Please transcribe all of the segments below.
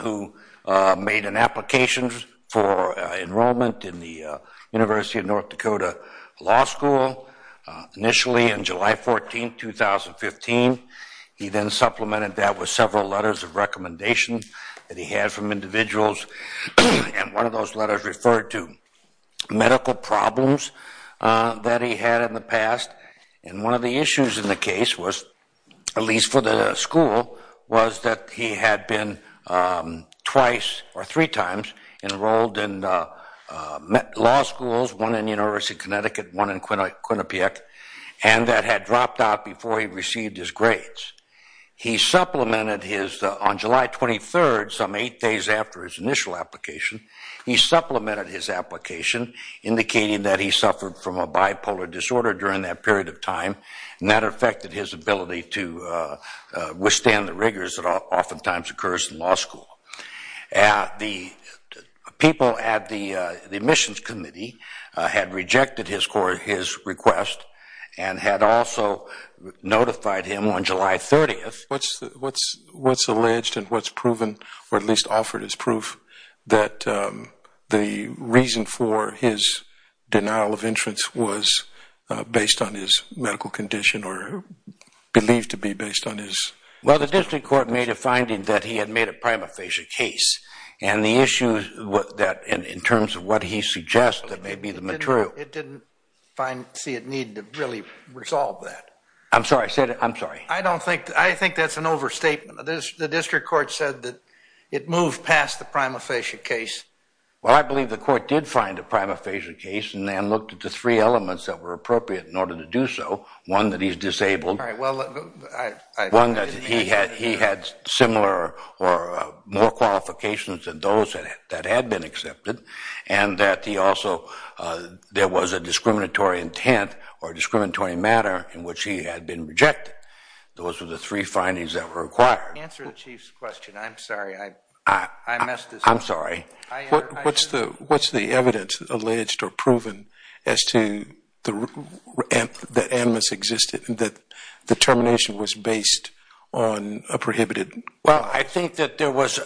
who made an application for enrollment in the University of North Dakota Law School. Initially, on July 14, 2015, he then supplemented that with several letters of recommendation that he had from individuals. And one of those letters referred to medical problems that he had in the past. And one of the issues in the case was, at least for the school, was that he had been twice or three times enrolled in law schools, one in University of Connecticut, one in Quinnipiac, and that had dropped out before he received his grades. He supplemented his, on July 23, some eight days after his initial application, he supplemented his application, indicating that he suffered from a bipolar disorder during that period of time. And that affected his ability to withstand the rigors that oftentimes occurs in law school. The people at the admissions committee had rejected his request and had also notified him on July 30. What's alleged and what's proven, or at least offered as proof, that the reason for his denial of entrance was based on his medical condition or believed to be based on his? Well, the district court made a finding that he had made a prima facie case. And the issue that, in terms of what he suggests, that may be the material. It didn't see a need to really resolve that. I'm sorry, I'm sorry. I don't think, I think that's an overstatement. The district court said that it moved past the prima facie case. Well, I believe the court did find a prima facie case and then looked at the three elements that were appropriate in order to do so. One, that he's disabled. All right, well, I- One, that he had similar or more qualifications than those that had been accepted. And that he also, there was a discriminatory intent or discriminatory matter in which he had been rejected. Those were the three findings that were required. Answer the chief's question. I'm sorry, I messed this up. I'm sorry. What's the evidence alleged or proven as to the animus existed and that the termination was based on a prohibited? Well, I think that there was,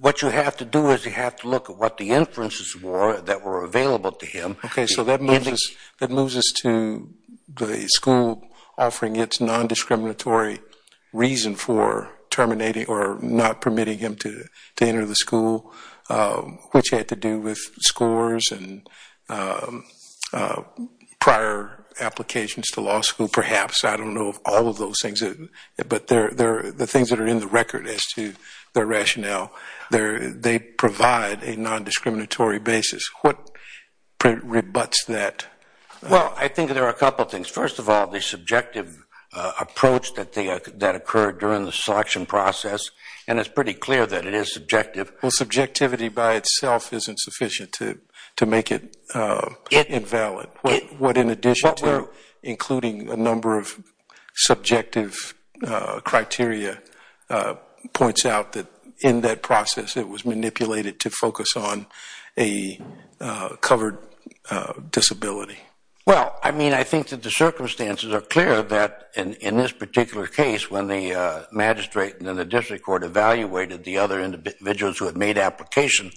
what you have to do is you have to look at what the inferences were that were available to him. Okay, so that moves us to the school offering its non-discriminatory reason for terminating or not permitting him to enter the school, which had to do with scores and prior applications to law school, perhaps. I don't know of all of those things, but they're the things that are in the record as to their rationale. They provide a non-discriminatory basis. What rebutts that? Well, I think there are a couple of things. First of all, the subjective approach that occurred during the selection process. And it's pretty clear that it is subjective. Well, subjectivity by itself isn't sufficient to make it invalid. What in addition to including a number of subjective criteria points out that in that process, it was manipulated to focus on a covered disability. Well, I mean, I think that the circumstances are clear that in this particular case, when the magistrate and then the district court evaluated the other individuals who had made application,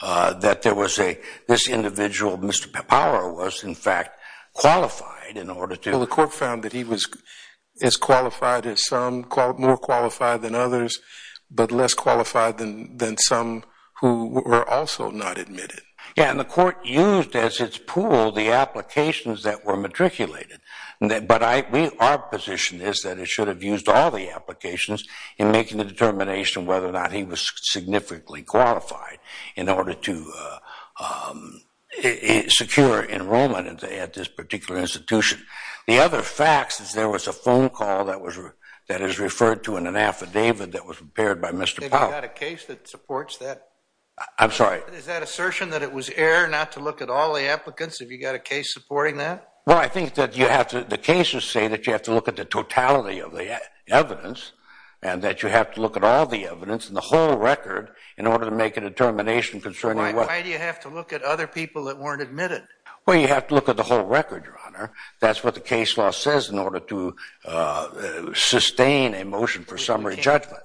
that there was a, this individual, Mr. Power, was in fact qualified in order to- Well, the court found that he was as qualified as some, more qualified than others, but less qualified than some who were also not admitted. Yeah, and the court used as its pool the applications that were matriculated. But our position is that it should have used all the applications in making the determination whether or not he was significantly qualified in order to secure enrollment at this particular institution. The other facts is there was a phone call that is referred to in an affidavit that was prepared by Mr. Power. Have you got a case that supports that? I'm sorry. Is that assertion that it was error not to look at all the applicants? Have you got a case supporting that? Well, I think that you have to, the cases say that you have to look at the totality of the evidence and that you have to look at all the evidence and the whole record in order to make a determination concerning what- Why do you have to look at other people that weren't admitted? Well, you have to look at the whole record, Your Honor. That's what the case law says in order to sustain a motion for summary judgment.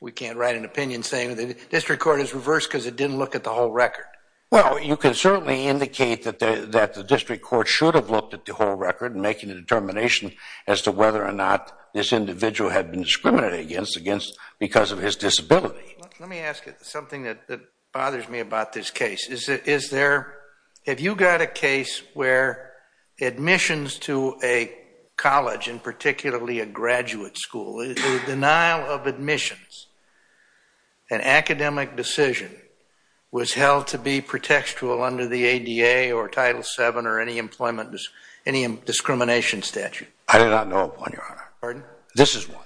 We can't write an opinion saying that the district court is reversed because it didn't look at the whole record. Well, you can certainly indicate that the district court should have looked at the whole record and making a determination as to whether or not this individual had been discriminated against because of his disability. Let me ask you something that bothers me about this case. Have you got a case where admissions to a college and particularly a graduate school, the denial of admissions, an academic decision, was held to be pretextual under the ADA or Title VII or any employment, any discrimination statute? I do not know of one, Your Honor. Pardon? This is one.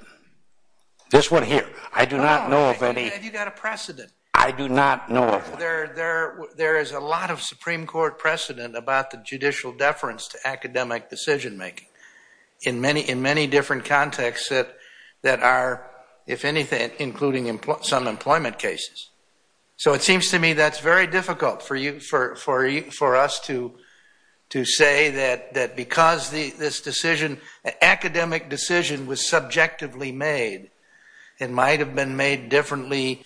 This one here. I do not know of any- Have you got a precedent? I do not know of one. There is a lot of Supreme Court precedent about the judicial deference to academic decision-making in many different contexts that are, if anything, including some employment cases. So it seems to me that's very difficult for us to say that because this decision, academic decision was subjectively made. It might have been made differently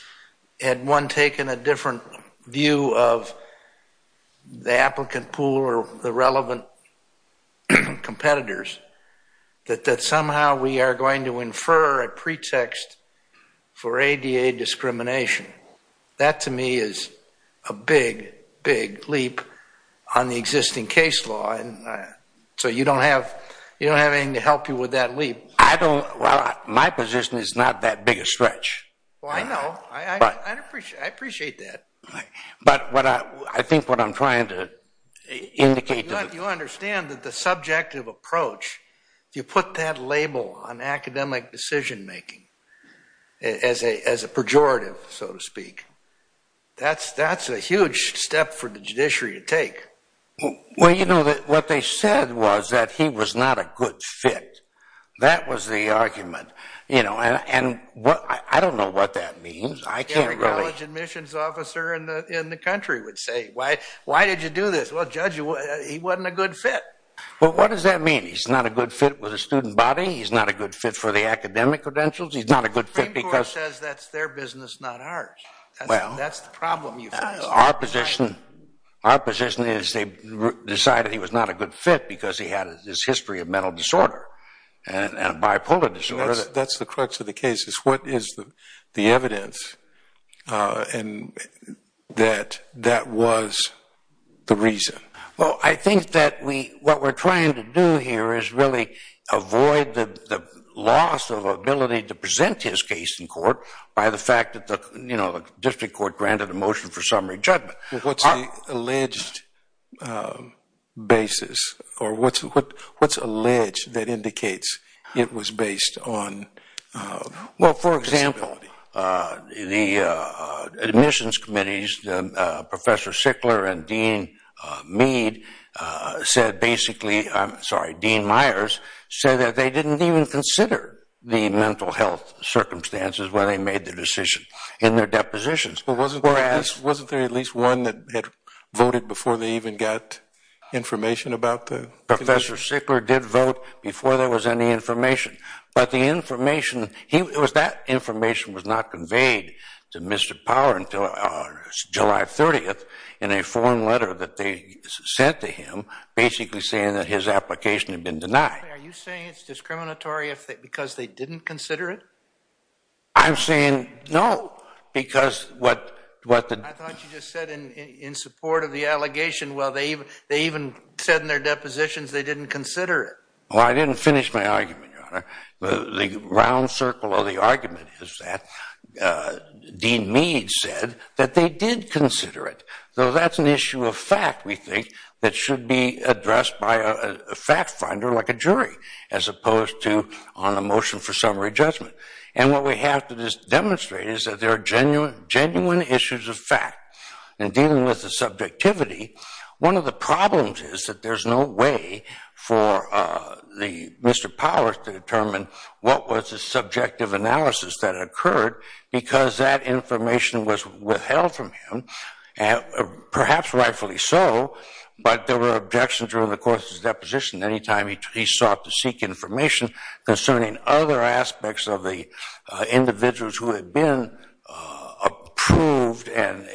had one taken a different view of the applicant pool or the relevant competitors, that somehow we are going to infer a pretext for ADA discrimination. That, to me, is a big, big leap on the existing case law. So you don't have anything to help you with that leap. I don't, well, my position is not that big a stretch. Well, I know. I appreciate that. But I think what I'm trying to indicate- You understand that the subjective approach, if you put that label on academic decision-making as a pejorative, so to speak, that's a huge step for the judiciary to take. Well, you know, what they said was that he was not a good fit. That was the argument. I don't know what that means. I can't really- Every college admissions officer in the country would say, why did you do this? Well, judge, he wasn't a good fit. Well, what does that mean? He's not a good fit with a student body? He's not a good fit for the academic credentials? He's not a good fit because- The Supreme Court says that's their business, not ours. That's the problem you face. Our position is they decided he was not a good fit because he had this history of mental disorder and bipolar disorder. That's the crux of the case, is what is the evidence that that was the reason? Well, I think that what we're trying to do here is really avoid the loss of ability to present his case in court by the fact that the district court granted a motion for summary judgment. Well, what's the alleged basis or what's alleged that indicates it was based on- Well, for example, the admissions committees, Professor Sickler and Dean Mead said basically, I'm sorry, Dean Myers said that they didn't even consider the mental health circumstances when they made the decision in their depositions. Wasn't there at least one that had voted before they even got information about the- Professor Sickler did vote before there was any information. But the information, that information was not conveyed to Mr. Power until July 30th in a form letter that they sent to him, basically saying that his application had been denied. Are you saying it's discriminatory because they didn't consider it? I'm saying no, because what the- I thought you just said in support of the allegation, well, they even said in their depositions they didn't consider it. Well, I didn't finish my argument, Your Honor. The round circle of the argument is that Dean Mead said that they did consider it. So that's an issue of fact, we think, that should be addressed by a fact finder like a jury as opposed to on a motion for summary judgment. And what we have to demonstrate is that there are genuine issues of fact. In dealing with the subjectivity, one of the problems is that there's no way for Mr. Powers to determine what was the subjective analysis that occurred because that information was withheld from him, perhaps rightfully so, but there were objections during the course of his deposition anytime he sought to seek information concerning other aspects of the individuals who had been approved and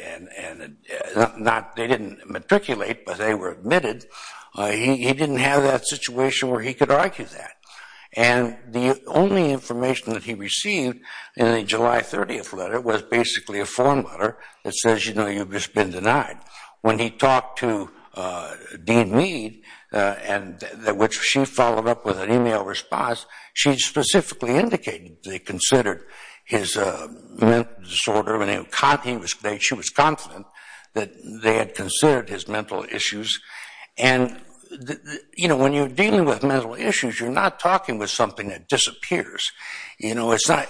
not, they didn't matriculate, but they were admitted, he didn't have that situation where he could argue that. And the only information that he received in the July 30th letter was basically a form letter that says, you know, you've just been denied. When he talked to Dean Mead and which she followed up with an email response, she specifically indicated they considered his mental disorder and she was confident that they had considered his mental issues. And, you know, when you're dealing with mental issues, you're not talking with something that disappears. You know, it's not,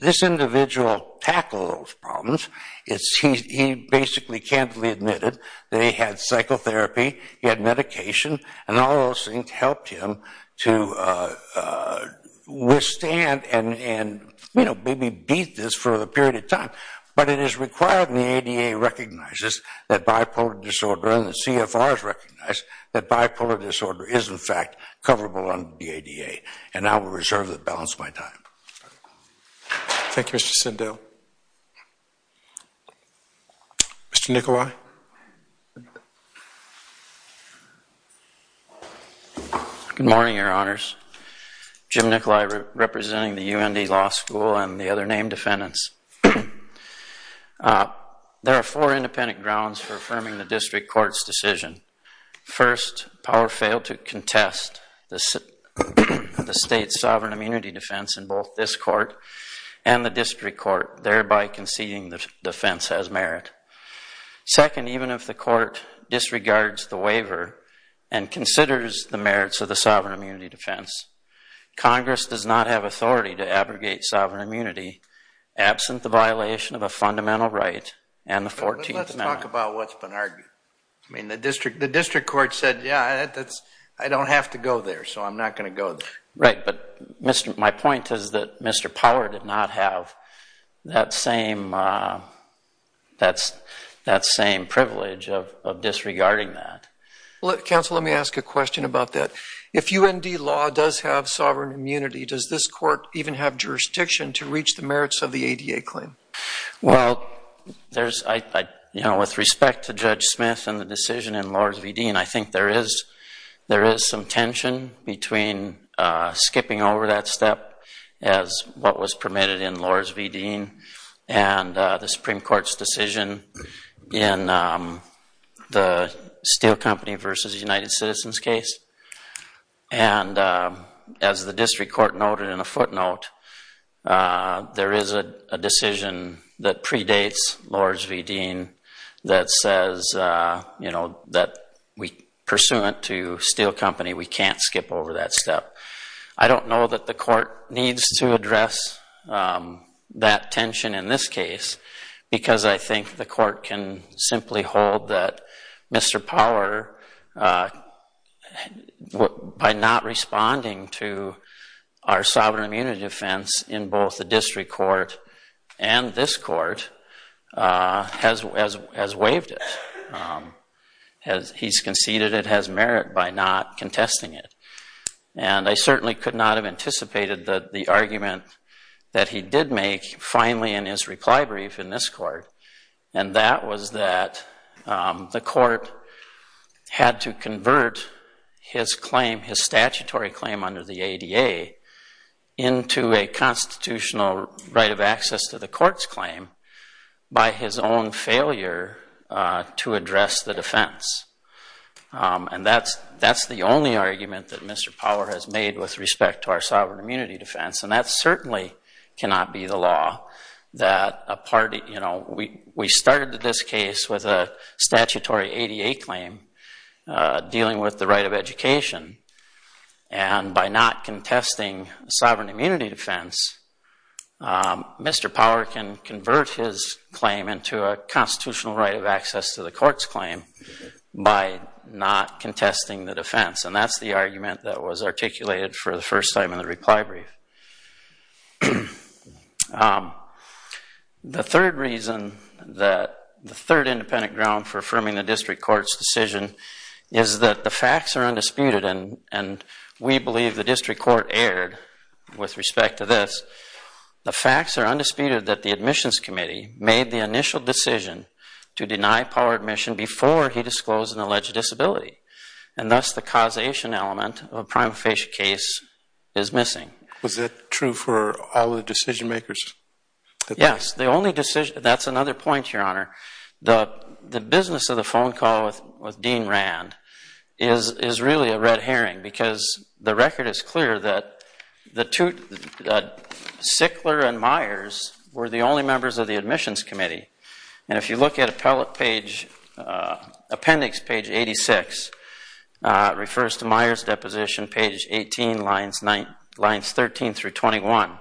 this individual tackled those problems. It's, he basically candidly admitted that he had psychotherapy, he had medication, and all those things helped him to withstand and, you know, maybe beat this for a period of time. But it is required and the ADA recognizes that bipolar disorder and the CFR has recognized that bipolar disorder is in fact coverable under the ADA. And I will reserve the balance of my time. Thank you, Mr. Sindel. Thank you. Mr. Nicolai. Good morning, your honors. Jim Nicolai representing the UND Law School and the other named defendants. There are four independent grounds for affirming the district court's decision. First, power failed to contest the state's sovereign immunity defense in both this court and the district court, thereby conceding the defense as merit. Second, even if the court disregards the waiver and considers the merits of the sovereign immunity defense, Congress does not have authority to abrogate sovereign immunity absent the violation of a fundamental right and the 14th Amendment. Let's talk about what's been argued. I mean, the district court said, yeah, I don't have to go there, so I'm not gonna go there. Right, but my point is that Mr. Power did not have that same privilege of disregarding that. Counsel, let me ask a question about that. If UND Law does have sovereign immunity, does this court even have jurisdiction to reach the merits of the ADA claim? Well, with respect to Judge Smith and the decision in Lords v. Dean, I think there is some tension between skipping over that step as what was permitted in Lords v. Dean and the Supreme Court's decision in the Steel Company versus United Citizens case. And as the district court noted in a footnote, there is a decision that predates Lords v. Dean that says that pursuant to Steel Company, we can't skip over that step. I don't know that the court needs to address that tension in this case because I think the court can simply hold that Mr. Power, by not responding to our sovereign immunity defense in both the district court and this court, has waived it. He's conceded it has merit by not contesting it. And I certainly could not have anticipated that the argument that he did make finally in his reply brief in this court, and that was that the court had to convert his claim, his statutory claim under the ADA, into a constitutional right of access to the court's claim by his own failure to address the defense. And that's the only argument that Mr. Power has made with respect to our sovereign immunity defense, and that certainly cannot be the law. We started this case with a statutory ADA claim dealing with the right of education, and by not contesting sovereign immunity defense, Mr. Power can convert his claim into a constitutional right of access to the court's claim by not contesting the defense. And that's the argument that was articulated for the first time in the reply brief. The third reason, the third independent ground for affirming the district court's decision is that the facts are undisputed, and we believe the district court erred with respect to this. The facts are undisputed that the admissions committee made the initial decision to deny Power admission before he disclosed an alleged disability, and thus the causation element of a prima facie case is missing. Was that true for all the decision makers? Yes, the only decision, that's another point, Your Honor. The business of the phone call with Dean Rand is really a red herring, because the record is clear that Sickler and Myers were the only members of the admissions committee. And if you look at appendix page 86, refers to Myers' deposition, page 18, lines 13 through 21.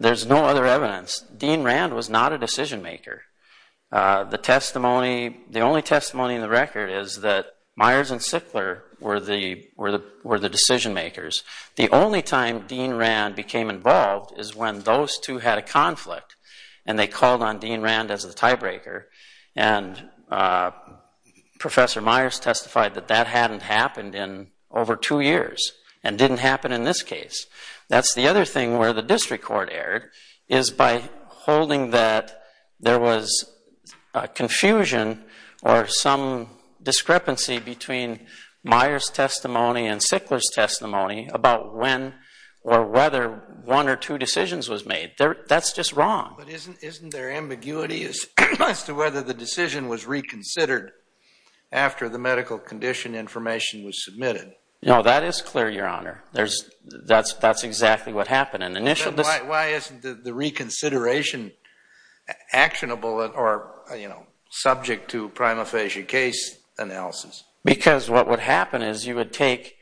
There's no other evidence. Dean Rand was not a decision maker. The only testimony in the record is that Myers and Sickler were the decision makers. The only time Dean Rand became involved is when those two had a conflict, and they called on Dean Rand as the tiebreaker, and Professor Myers testified that that hadn't happened in over two years, and didn't happen in this case. That's the other thing where the district court erred is by holding that there was a confusion or some discrepancy between Myers' testimony and Sickler's testimony about when or whether one or two decisions was made. That's just wrong. But isn't there ambiguity as to whether the decision was reconsidered after the medical condition information was submitted? No, that is clear, Your Honor. That's exactly what happened. And initially this- Why isn't the reconsideration actionable or subject to prima facie case analysis? Because what would happen is you would take,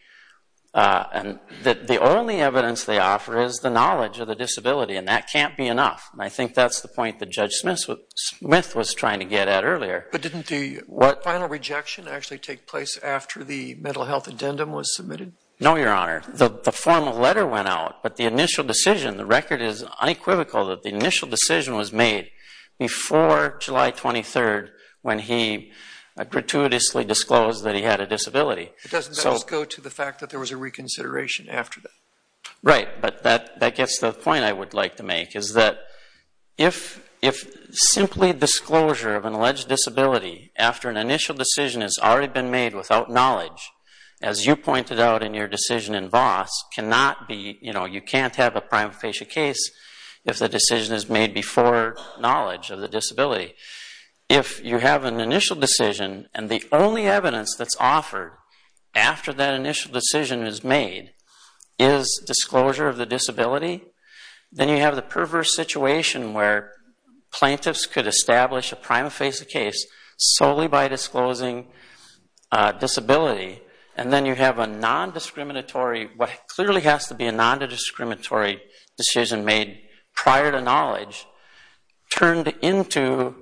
and the only evidence they offer is the knowledge of the disability, and that can't be enough. I think that's the point that Judge Smith was trying to get at earlier. But didn't the final rejection actually take place after the mental health addendum was submitted? No, Your Honor. The formal letter went out, but the initial decision, the record is unequivocal that the initial decision was made before July 23rd when he gratuitously disclosed that he had a disability. It doesn't just go to the fact that there was a reconsideration after that. Right, but that gets to the point I would like to make, is that if simply disclosure of an alleged disability after an initial decision has already been made without knowledge, as you pointed out in your decision in Voss, cannot be, you know, you can't have a prima facie case if the decision is made before knowledge of the disability. If you have an initial decision and the only evidence that's offered after that initial decision is made is disclosure of the disability, then you have the perverse situation where plaintiffs could establish a prima facie case solely by disclosing disability. And then you have a non-discriminatory, what clearly has to be a non-discriminatory decision made prior to knowledge, turned into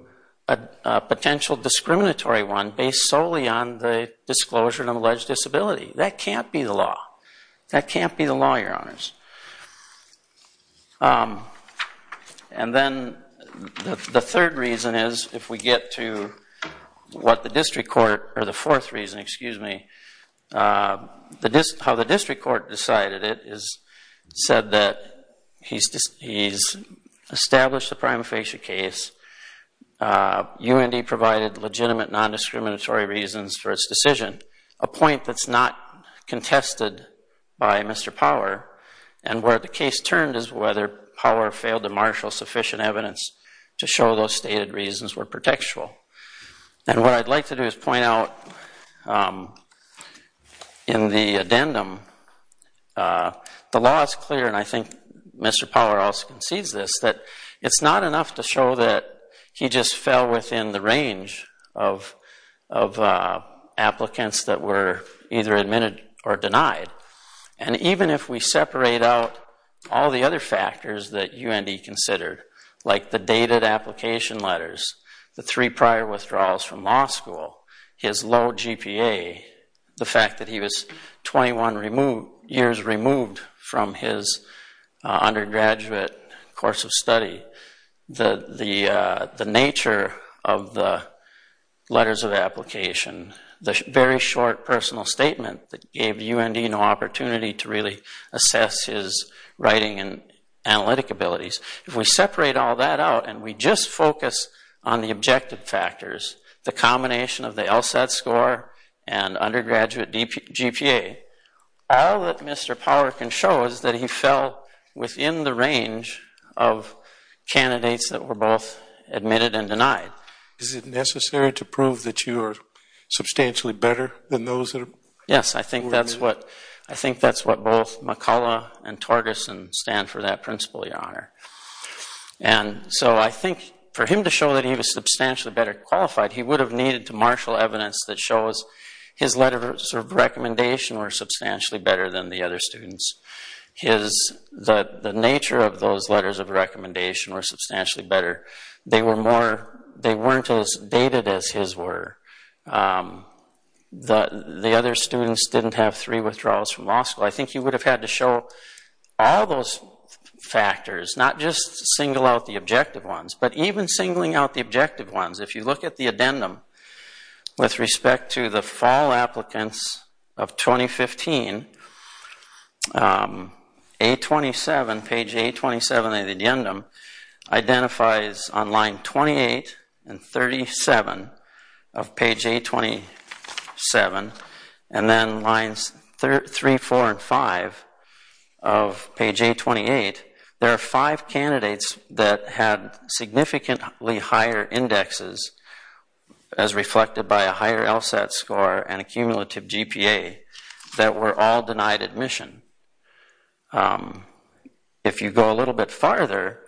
a potential discriminatory one based solely on the disclosure of an alleged disability. That can't be the law. That can't be the law, your honors. And then the third reason is, if we get to what the district court, or the fourth reason, excuse me, how the district court decided it, said that he's established a prima facie case, UND provided legitimate non-discriminatory reasons for its decision, a point that's not contested by Mr. Power, and where the case turned is whether Power failed to marshal sufficient evidence to show those stated reasons were protectual. And what I'd like to do is point out that in the addendum, the law is clear, and I think Mr. Power also concedes this, that it's not enough to show that he just fell within the range of applicants that were either admitted or denied. And even if we separate out all the other factors that UND considered, like the dated application letters, the three prior withdrawals from law school, his low GPA, the fact that he was 21 years removed from his undergraduate course of study, the nature of the letters of application, the very short personal statement that gave UND no opportunity to really assess his writing and analytic abilities, if we separate all that out and we just focus on the objective factors, the combination of the LSAT score and undergraduate GPA, all that Mr. Power can show is that he fell within the range of candidates that were both admitted and denied. Is it necessary to prove that you are substantially better than those that are? Yes, I think that's what both McCullough and Torgerson stand for that principle, Your Honor. And so I think for him to show that he was substantially better qualified, he would have needed to marshal evidence that shows his letters of recommendation were substantially better than the other students. The nature of those letters of recommendation were substantially better. They weren't as dated as his were. The other students didn't have three withdrawals from law school. I think he would have had to show all those factors, not just single out the objective ones, but even singling out the objective ones. If you look at the addendum with respect to the fall applicants of 2015, page 827 of the addendum identifies on line 28 and 37 of page 827 and then lines three, four, and five of page 828, there are five candidates that had significantly higher indexes as reflected by a higher LSAT score and a cumulative GPA that were all denied admission. If you go a little bit farther,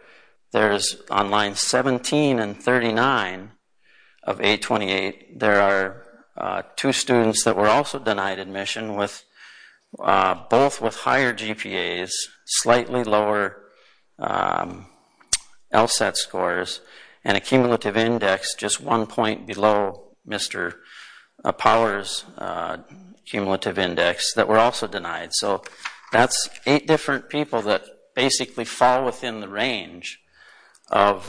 there's on line 17 and 39 of 828, there are two students that were also denied admission with both with higher GPAs, slightly lower LSAT scores, and a cumulative index just one point below Mr. Power's cumulative index that were also denied. So that's eight different people that basically fall within the range of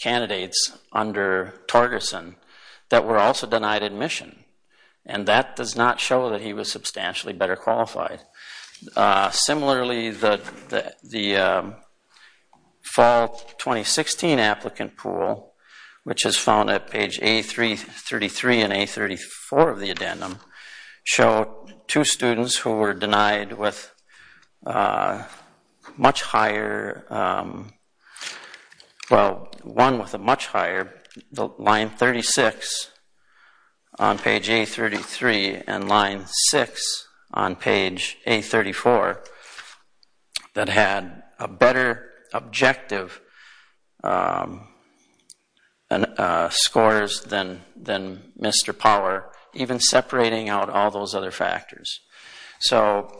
candidates under Torgerson that were also denied admission. And that does not show that he was substantially better qualified. Similarly, the fall 2016 applicant pool, which is found at page A333 and A34 of the addendum show two students who were denied with much higher, well, one with a much higher, line 36 on page A33 and line six on page A34 that had a better objective scores than Mr. Power, even separating out all those other factors. So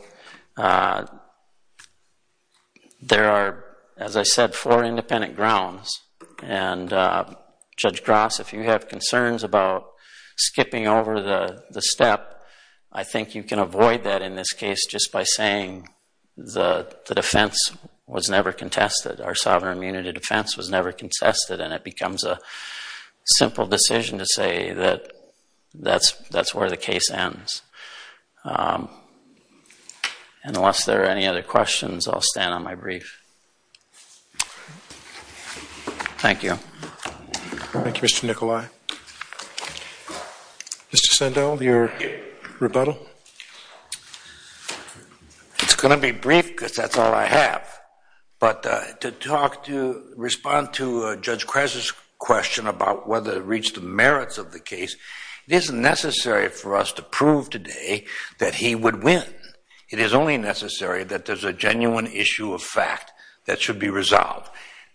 there are, as I said, four independent grounds. And Judge Gross, if you have concerns about skipping over the step, I think you can avoid that in this case just by saying the defense was never contested, our sovereign immunity defense was never contested, and it becomes a simple decision to say that that's where the case ends. Unless there are any other questions, I'll stand on my brief. Thank you. Thank you, Mr. Nicolai. Mr. Sandel, your rebuttal. It's gonna be brief, because that's all I have. But to talk to, respond to Judge Kras's question about whether it reached the merits of the case, it isn't necessary for us to prove today that he would win. It is only necessary that there's a genuine issue of fact that should be resolved.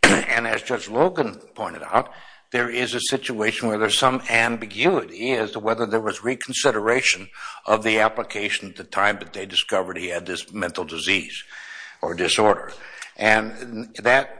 And as Judge Logan pointed out, there is a situation where there's some ambiguity as to whether there was reconsideration of the application at the time that they discovered he had this mental disease or disorder. And that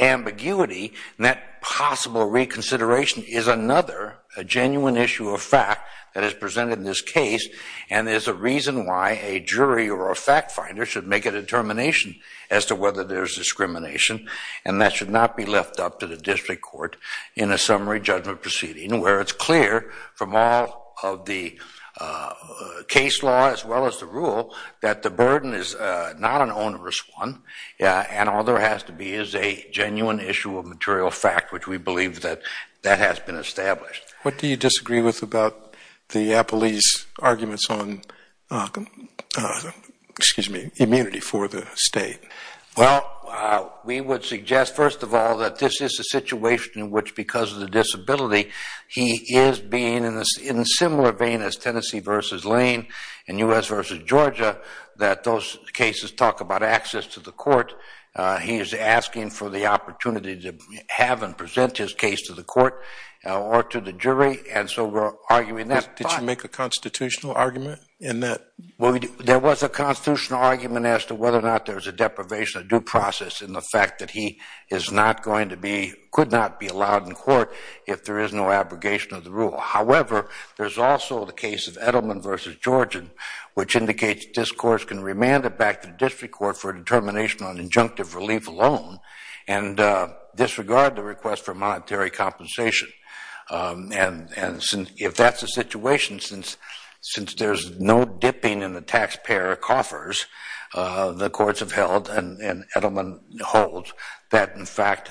ambiguity and that possible reconsideration is another genuine issue of fact that is presented in this case, and is a reason why a jury or a fact finder should make a determination as to whether there's discrimination. And that should not be left up to the district court in a summary judgment proceeding, where it's clear from all of the case law, as well as the rule, that the burden is not an onerous one. And all there has to be is a genuine issue of material fact, which we believe that that has been established. What do you disagree with about the appellee's arguments on, excuse me, immunity for the state? Well, we would suggest, first of all, that this is a situation in which, because of the disability, he is being in a similar vein as Tennessee versus Lane, and U.S. versus Georgia, that those cases talk about access to the court. He is asking for the opportunity to have and present his case to the court or to the jury. And so we're arguing that. Did you make a constitutional argument in that? There was a constitutional argument as to whether or not there was a deprivation of due process in the fact that he is not going to be, could not be allowed in court if there is no abrogation of the rule. However, there's also the case of Edelman versus Georgian, which indicates that this court can remand it back to the district court for a determination on injunctive relief alone, and disregard the request for monetary compensation. And if that's the situation, since there's no dipping in the taxpayer coffers, the courts have held, and Edelman holds, that, in fact,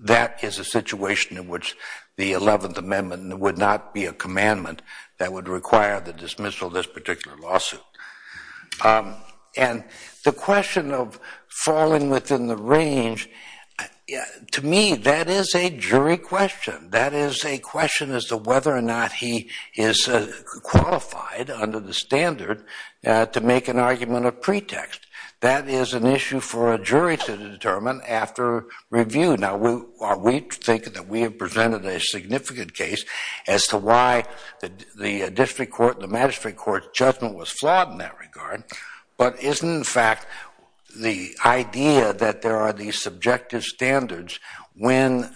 that is a situation in which the 11th Amendment would not be a commandment that would require the dismissal of this particular lawsuit. And the question of falling within the range, to me, that is a jury question. That is a question as to whether or not he is qualified under the standard to make an argument of pretext. That is an issue for a jury to determine after review. Now, we think that we have presented a significant case as to why the district court, the magistrate court's judgment was flawed in that regard, but isn't, in fact, the idea that there are these subjective standards when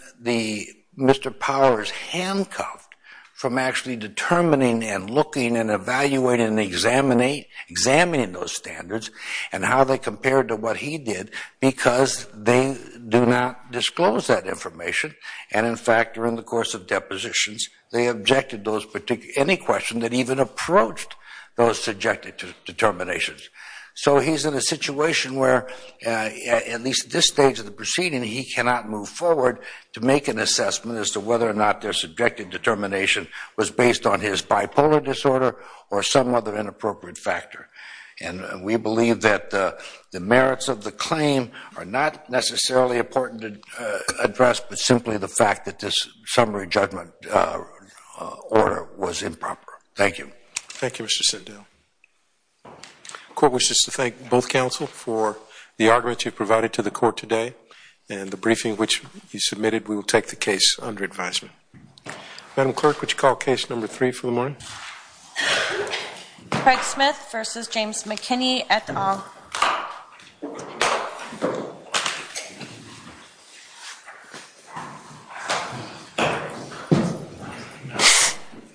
Mr. Power is handcuffed from actually determining, and looking, and evaluating, and examining those standards, and how they compare to what he did, because they do not disclose that information. And, in fact, during the course of depositions, they objected to any question that even approached those subjective determinations. So he's in a situation where, at least at this stage of the proceeding, he cannot move forward to make an assessment as to whether or not their subjective determination was based on his bipolar disorder or some other inappropriate factor. And we believe that the merits of the claim are not necessarily important to address, but simply the fact that this summary judgment order was improper. Thank you. Thank you, Mr. Sindel. Court wishes to thank both counsel for the arguments you've provided to the court today, and the briefing which you submitted. We will take the case under advisement. Madam Clerk, would you call case number three for the morning? Craig Smith versus James McKinney et al.